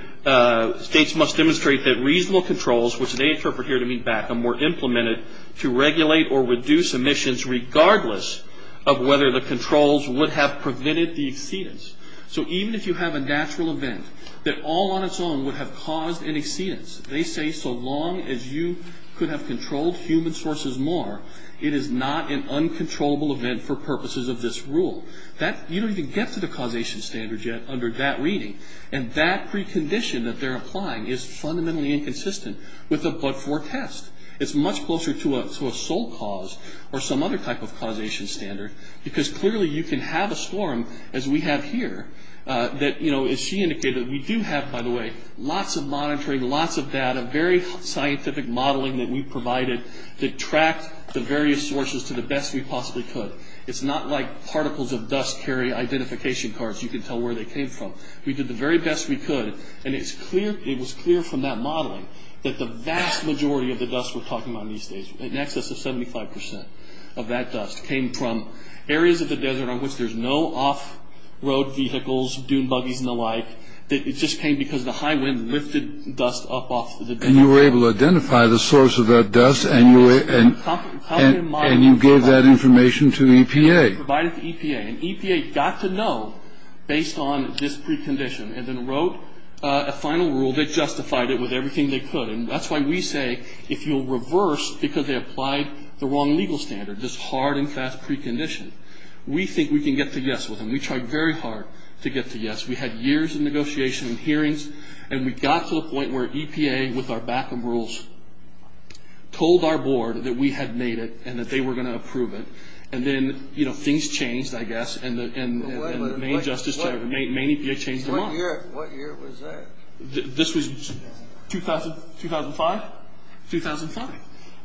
states must demonstrate that reasonable controls, which they interpret here to mean back them, were implemented to regulate or reduce emissions regardless of whether the controls would have prevented the exceedance. So even if you have a natural event that all on its own would have caused an exceedance, they say so long as you could have controlled human sources more, it is not an uncontrollable event for purposes of this rule. You don't even get to the causation standard yet under that reading. And that precondition that they're applying is fundamentally inconsistent with the but-for test. It's much closer to a sole cause or some other type of causation standard because clearly you can have a storm, as we have here, that, as she indicated, we do have, by the way, lots of monitoring, lots of data, very scientific modeling that we provided to track the various sources to the best we possibly could. It's not like particles of dust carry identification cards. You can tell where they came from. We did the very best we could, and it was clear from that modeling that the vast majority of the dust we're talking about in these states, in excess of 75 percent of that dust came from areas of the desert on which there's no off-road vehicles, dune buggies and the like. It just came because the high wind lifted dust up off the desert. And you were able to identify the source of that dust, and you gave that information to EPA. We provided it to EPA, and EPA got to know based on this precondition and then wrote a final rule that justified it with everything they could. And that's why we say if you'll reverse, because they applied the wrong legal standard, this hard and fast precondition, we think we can get to yes with them. We tried very hard to get to yes. We had years of negotiation and hearings, and we got to the point where EPA, with our back-up rules, told our board that we had made it and that they were going to approve it. And then, you know, things changed, I guess, and the main EPA changed their mind. What year was that? This was 2005? 2005.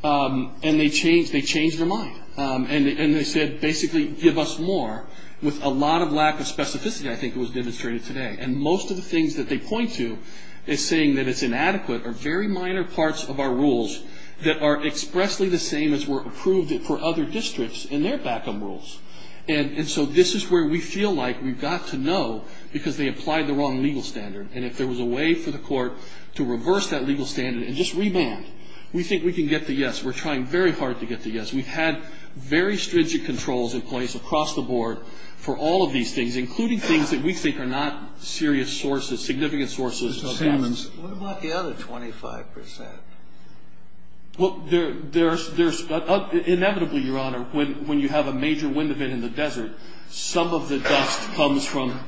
And they changed their mind, and they said basically give us more, with a lot of lack of specificity I think was demonstrated today. And most of the things that they point to is saying that it's inadequate or very minor parts of our rules that are expressly the same as were approved for other districts in their back-up rules. And so this is where we feel like we've got to know because they applied the wrong legal standard, and if there was a way for the court to reverse that legal standard and just rebound, we think we can get to yes. We're trying very hard to get to yes. We've had very stringent controls in place across the board for all of these things, including things that we think are not serious sources, significant sources of damage. What about the other 25 percent? Well, there's – inevitably, Your Honor, when you have a major wind event in the desert, some of the dust comes from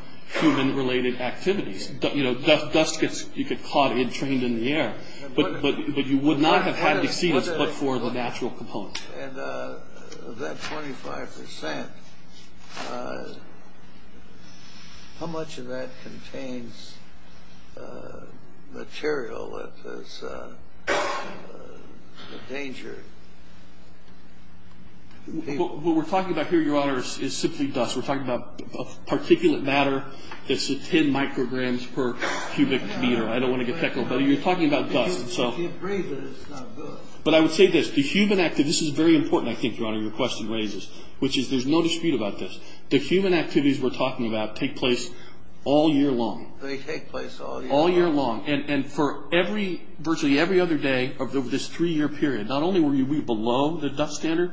human-related activities. You know, dust gets – you get caught entrained in the air. But you would not have had to see this but for the natural component. And of that 25 percent, how much of that contains material that is endangered? What we're talking about here, Your Honor, is simply dust. We're talking about particulate matter that's 10 micrograms per cubic meter. I don't want to get technical, but you're talking about dust. But I would say this. The human – this is very important, I think, Your Honor, your question raises, which is there's no dispute about this. The human activities we're talking about take place all year long. They take place all year long. All year long. And for every – virtually every other day of this three-year period, not only were we below the dust standard,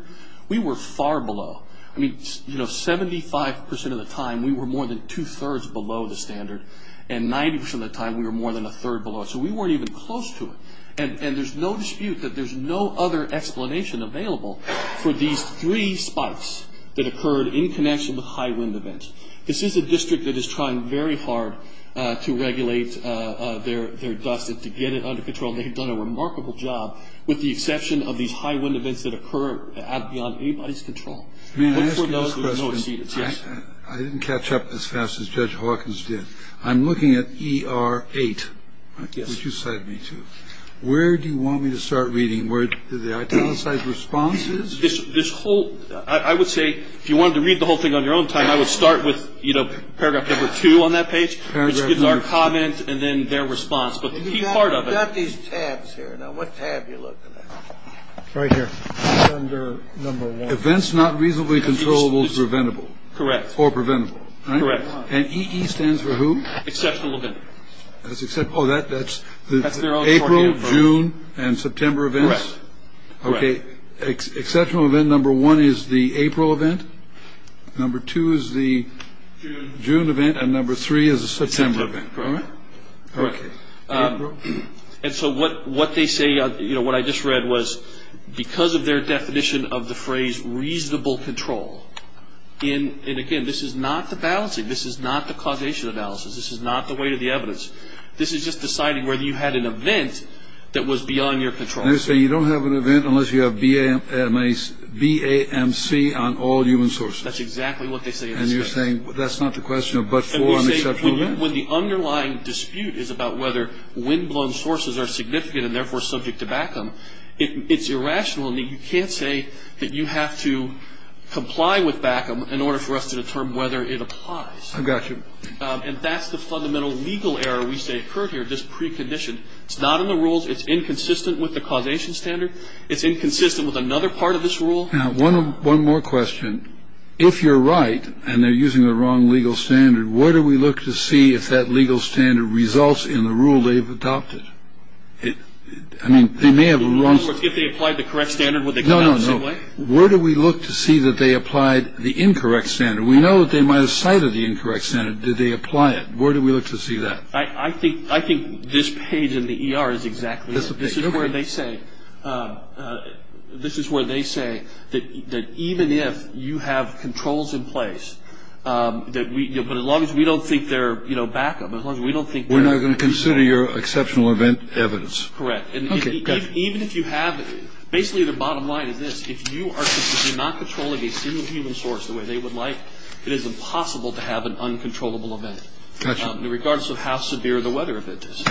we were far below. I mean, you know, 75 percent of the time, we were more than two-thirds below the standard. And 90 percent of the time, we were more than a third below it. So we weren't even close to it. And there's no dispute that there's no other explanation available for these three spikes that occurred in connection with high-wind events. This is a district that is trying very hard to regulate their dust and to get it under control. They have done a remarkable job, with the exception of these high-wind events that occur beyond anybody's control. I didn't catch up as fast as Judge Hawkins did. I'm looking at ER-8, which you cited me to. Where do you want me to start reading? Where do the italicized responses? This whole – I would say if you wanted to read the whole thing on your own time, I would start with, you know, paragraph number two on that page, which gives our comments and then their response. But the key part of it – We've got these tabs here. Now, what tab are you looking at? Right here. Under number one. Events not reasonably controllable is preventable. Correct. Or preventable. Correct. And EE stands for who? Exceptional event. Oh, that's April, June, and September events? Correct. Okay. Exceptional event number one is the April event. Number two is the June event. And number three is the September event. Correct. Okay. April. And so what they say – you know, what I just read was because of their definition of the phrase reasonable control in – and, again, this is not the balancing. This is not the causation analysis. This is not the weight of the evidence. This is just deciding whether you had an event that was beyond your control. And they say you don't have an event unless you have BAMC on all human sources. That's exactly what they say in this case. And you're saying that's not the question of but for an exceptional event? When the underlying dispute is about whether windblown sources are significant and, therefore, subject to BACM, it's irrational. You can't say that you have to comply with BACM in order for us to determine whether it applies. I've got you. And that's the fundamental legal error we say occurred here, just preconditioned. It's not in the rules. It's inconsistent with the causation standard. It's inconsistent with another part of this rule. Now, one more question. If you're right and they're using the wrong legal standard, where do we look to see if that legal standard results in the rule they've adopted? I mean, they may have a wrong – If they applied the correct standard, would they come out the same way? No, no, no. Where do we look to see that they applied the incorrect standard? We know that they might have cited the incorrect standard. Did they apply it? Where do we look to see that? I think this page in the ER is exactly that. This is where they say that even if you have controls in place, but as long as we don't think they're BACM, as long as we don't think they're – We're not going to consider your exceptional event evidence. Correct. And even if you have – basically, the bottom line is this. If you are not controlling a single human source the way they would like, it is impossible to have an uncontrollable event. And I'm not going to look at this. I'm going to look at this and see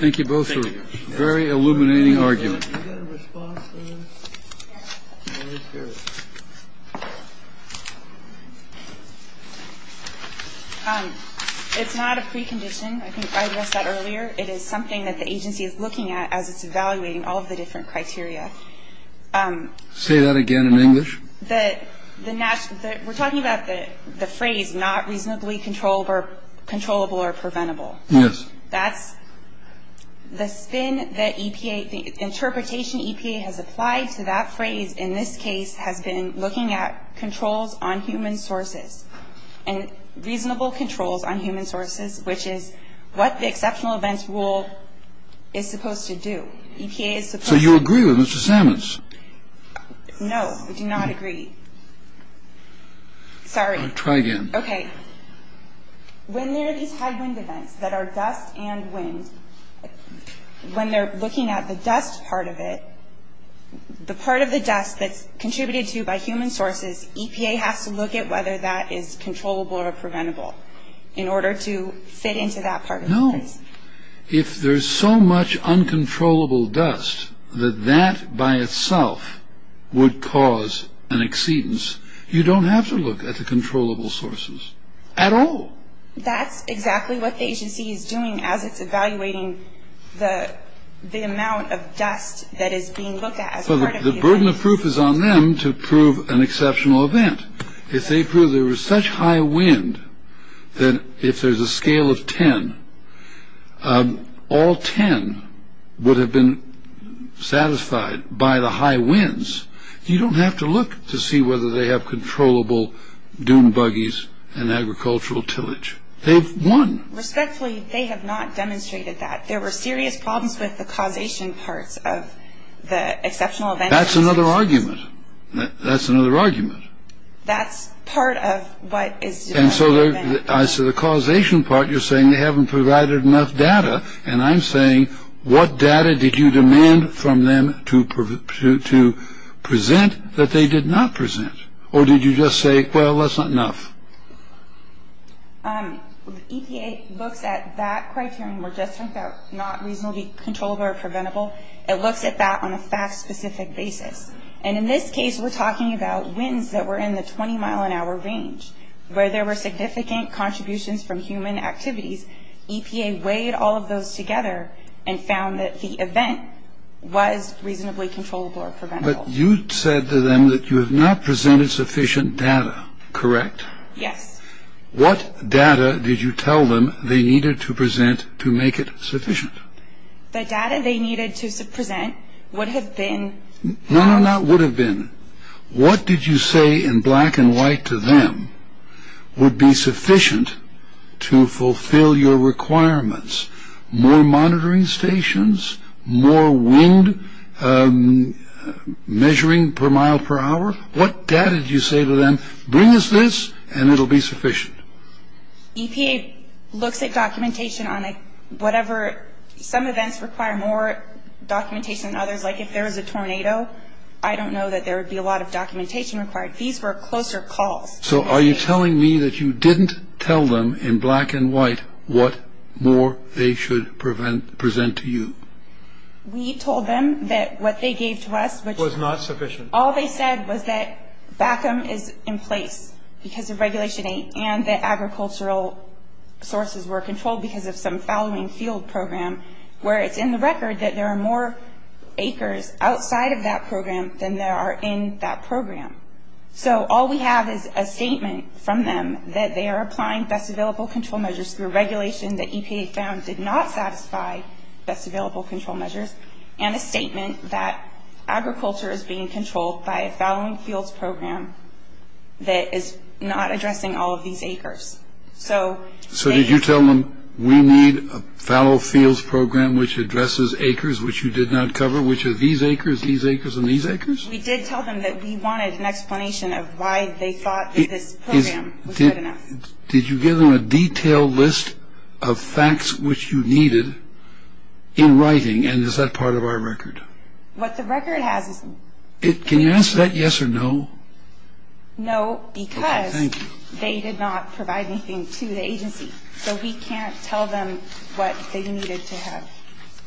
what you think. So I would say that the agency is looking at the standard in terms of the severity of the weather event. Got you. In regards to how severe the weather event is. Okay. Thank you. Thank you both for a very illuminating argument. Do you have a response to this? It's not a precondition. I think I addressed that earlier. It is something that the agency is looking at as it's evaluating all of the different criteria. Say that again in English. We're talking about the phrase not reasonably controllable or preventable. Yes. That's the spin that the interpretation EPA has applied to that phrase in this case has been looking at controls on human sources and reasonable controls on human sources, which is what the exceptional events rule is supposed to do. EPA is supposed to. So you agree with Mr. Sammons? No, we do not agree. Sorry. Try again. Okay. When there are these high wind events that are dust and wind, when they're looking at the dust part of it, the part of the dust that's contributed to by human sources, EPA has to look at whether that is controllable or preventable in order to fit into that part of the case. No. If there's so much uncontrollable dust that that by itself would cause an exceedance, you don't have to look at the controllable sources at all. That's exactly what the agency is doing as it's evaluating the amount of dust that is being looked at. The burden of proof is on them to prove an exceptional event. If they prove there was such high wind that if there's a scale of 10, all 10 would have been satisfied by the high winds. You don't have to look to see whether they have controllable dune buggies and agricultural tillage. They've won. Respectfully, they have not demonstrated that. There were serious problems with the causation parts of the exceptional event. That's another argument. That's another argument. That's part of what is... And so as to the causation part, you're saying they haven't provided enough data. And I'm saying, what data did you demand from them to present that they did not present? Or did you just say, well, that's not enough? EPA looks at that criterion. We're just not reasonably controllable or preventable. It looks at that on a fact-specific basis. And in this case, we're talking about winds that were in the 20-mile-an-hour range where there were significant contributions from human activities. EPA weighed all of those together and found that the event was reasonably controllable or preventable. But you said to them that you have not presented sufficient data, correct? Yes. What data did you tell them they needed to present to make it sufficient? The data they needed to present would have been... No, no, not would have been. What did you say in black and white to them would be sufficient to fulfill your requirements? More monitoring stations? More wind measuring per mile per hour? What data did you say to them, bring us this and it will be sufficient? EPA looks at documentation on whatever... Some events require more documentation than others. Like if there was a tornado, I don't know that there would be a lot of documentation required. These were closer calls. So are you telling me that you didn't tell them in black and white what more they should present to you? We told them that what they gave to us... Was not sufficient. All they said was that BACM is in place because of Regulation 8 and that agricultural sources were controlled because of some following field program where it's in the record that there are more acres outside of that program than there are in that program. So all we have is a statement from them that they are applying best available control measures through regulation that EPA found did not satisfy best available control measures and a statement that agriculture is being controlled by a following fields program that is not addressing all of these acres. So did you tell them we need a following fields program which addresses acres which you did not cover, which are these acres, these acres and these acres? We did tell them that we wanted an explanation of why they thought that this program was good enough. Did you give them a detailed list of facts which you needed in writing and is that part of our record? What the record has is... Can you answer that yes or no? No, because they did not provide anything to the agency. So we can't tell them what they needed to have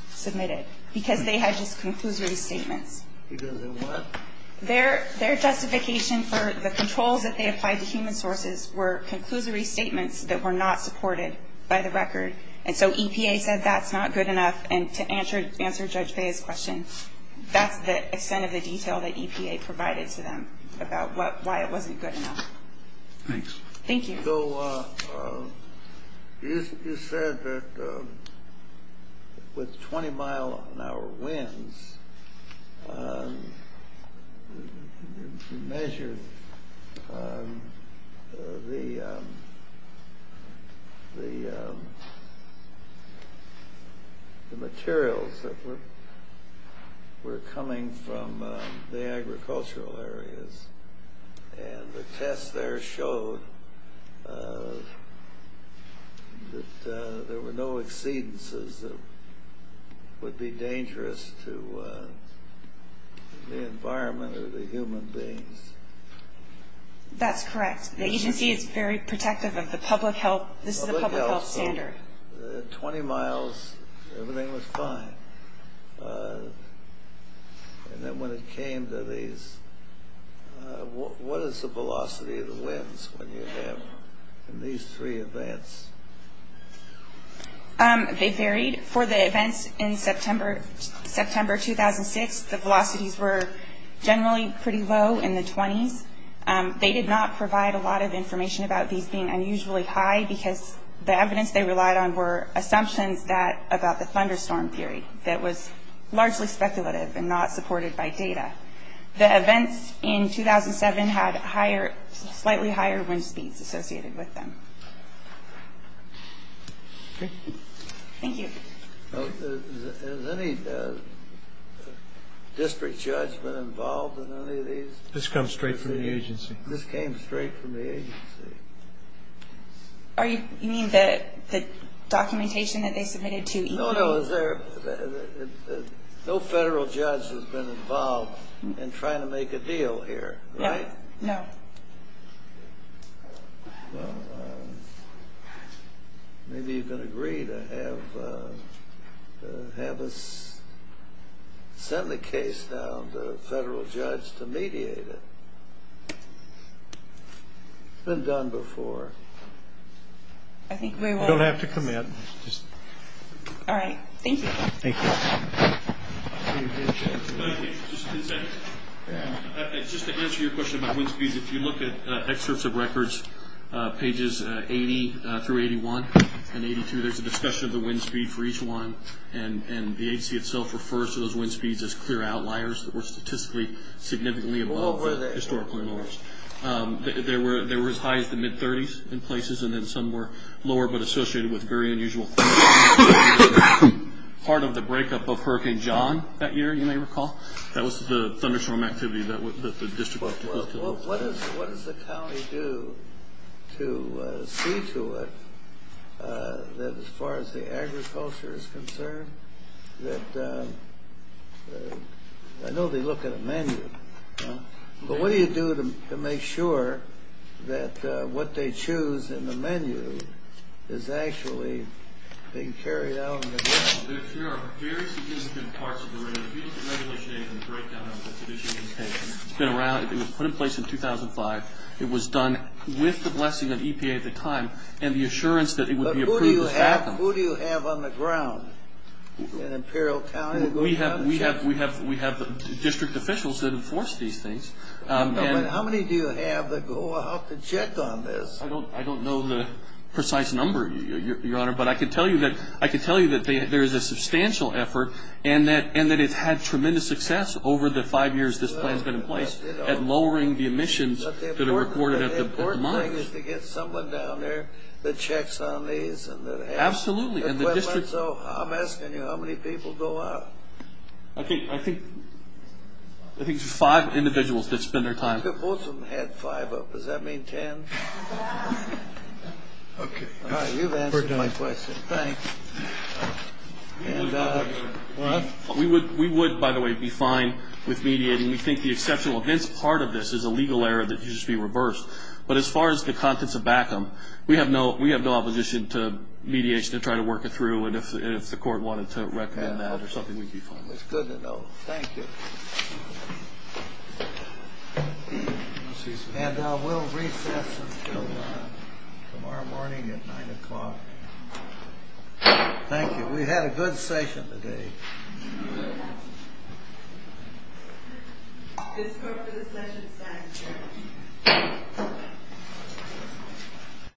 submitted because they had just conclusory statements. Because of what? Their justification for the controls that they applied to human sources were conclusory statements that were not supported by the record. And so EPA said that's not good enough and to answer Judge Bea's question, that's the extent of the detail that EPA provided to them about why it wasn't good enough. Thanks. Thank you. You said that with 20 mile an hour winds, you measured the materials that were coming from the agricultural areas and the test there showed that there were no exceedances that would be dangerous to the environment or the human beings. That's correct. The agency is very protective of the public health. This is a public health standard. 20 miles, everything was fine. And then when it came to these, what is the velocity of the winds when you have these three events? They varied. For the events in September 2006, the velocities were generally pretty low in the 20s. They did not provide a lot of information about these being unusually high because the evidence they relied on were assumptions that about the thunderstorm theory that was largely speculative and not supported by data. The events in 2007 had higher, slightly higher wind speeds associated with them. Thank you. Has any district judge been involved in any of these? This comes straight from the agency. You mean the documentation that they submitted to EPA? No federal judge has been involved in trying to make a deal here, right? No. Well, maybe you can agree to have us send the case down to a federal judge to mediate it. It's been done before. I think we will. You don't have to come in. All right. Thank you. Thank you. Just to answer your question about wind speeds, if you look at excerpts of records, pages 80 through 81 and 82, there's a discussion of the wind speed for each one, and the agency itself refers to those wind speeds as clear outliers that were statistically significantly above the historical norms. They were as high as the mid-30s in places, and then some were lower but associated with very unusual things. Part of the breakup of Hurricane John that year, you may recall? That was the thunderstorm activity that the district was dealing with. What does the county do to see to it that as far as the agriculture is concerned? I know they look at a menu, but what do you do to make sure that what they choose in the menu is actually being carried out in the ground? There are very significant parts of the regulation in the breakdown of the tradition. It's been around. It was put in place in 2005. It was done with the blessing of EPA at the time and the assurance that it would be approved was back then. Who do you have on the ground in Imperial County? We have district officials that enforce these things. How many do you have that go out to check on this? I don't know the precise number, Your Honor, but I can tell you that there is a substantial effort and that it's had tremendous success over the five years this plan has been in place at lowering the emissions that are reported at the months. The important thing is to get someone down there that checks on these. Absolutely. I'm asking you, how many people go out? I think five individuals that spend their time. I think both of them had five up. Does that mean ten? Okay. All right, you've answered my question. Thanks. We would, by the way, be fine with mediating. We think the exceptional events part of this is a legal error that needs to be reversed, but as far as the contents of BACM, we have no opposition to mediation to try to work it through and if the court wanted to recommend that or something, we'd be fine with it. It's good to know. Thank you. And we'll recess until tomorrow morning at 9 o'clock. Thank you. We had a good session today. This court is adjourned.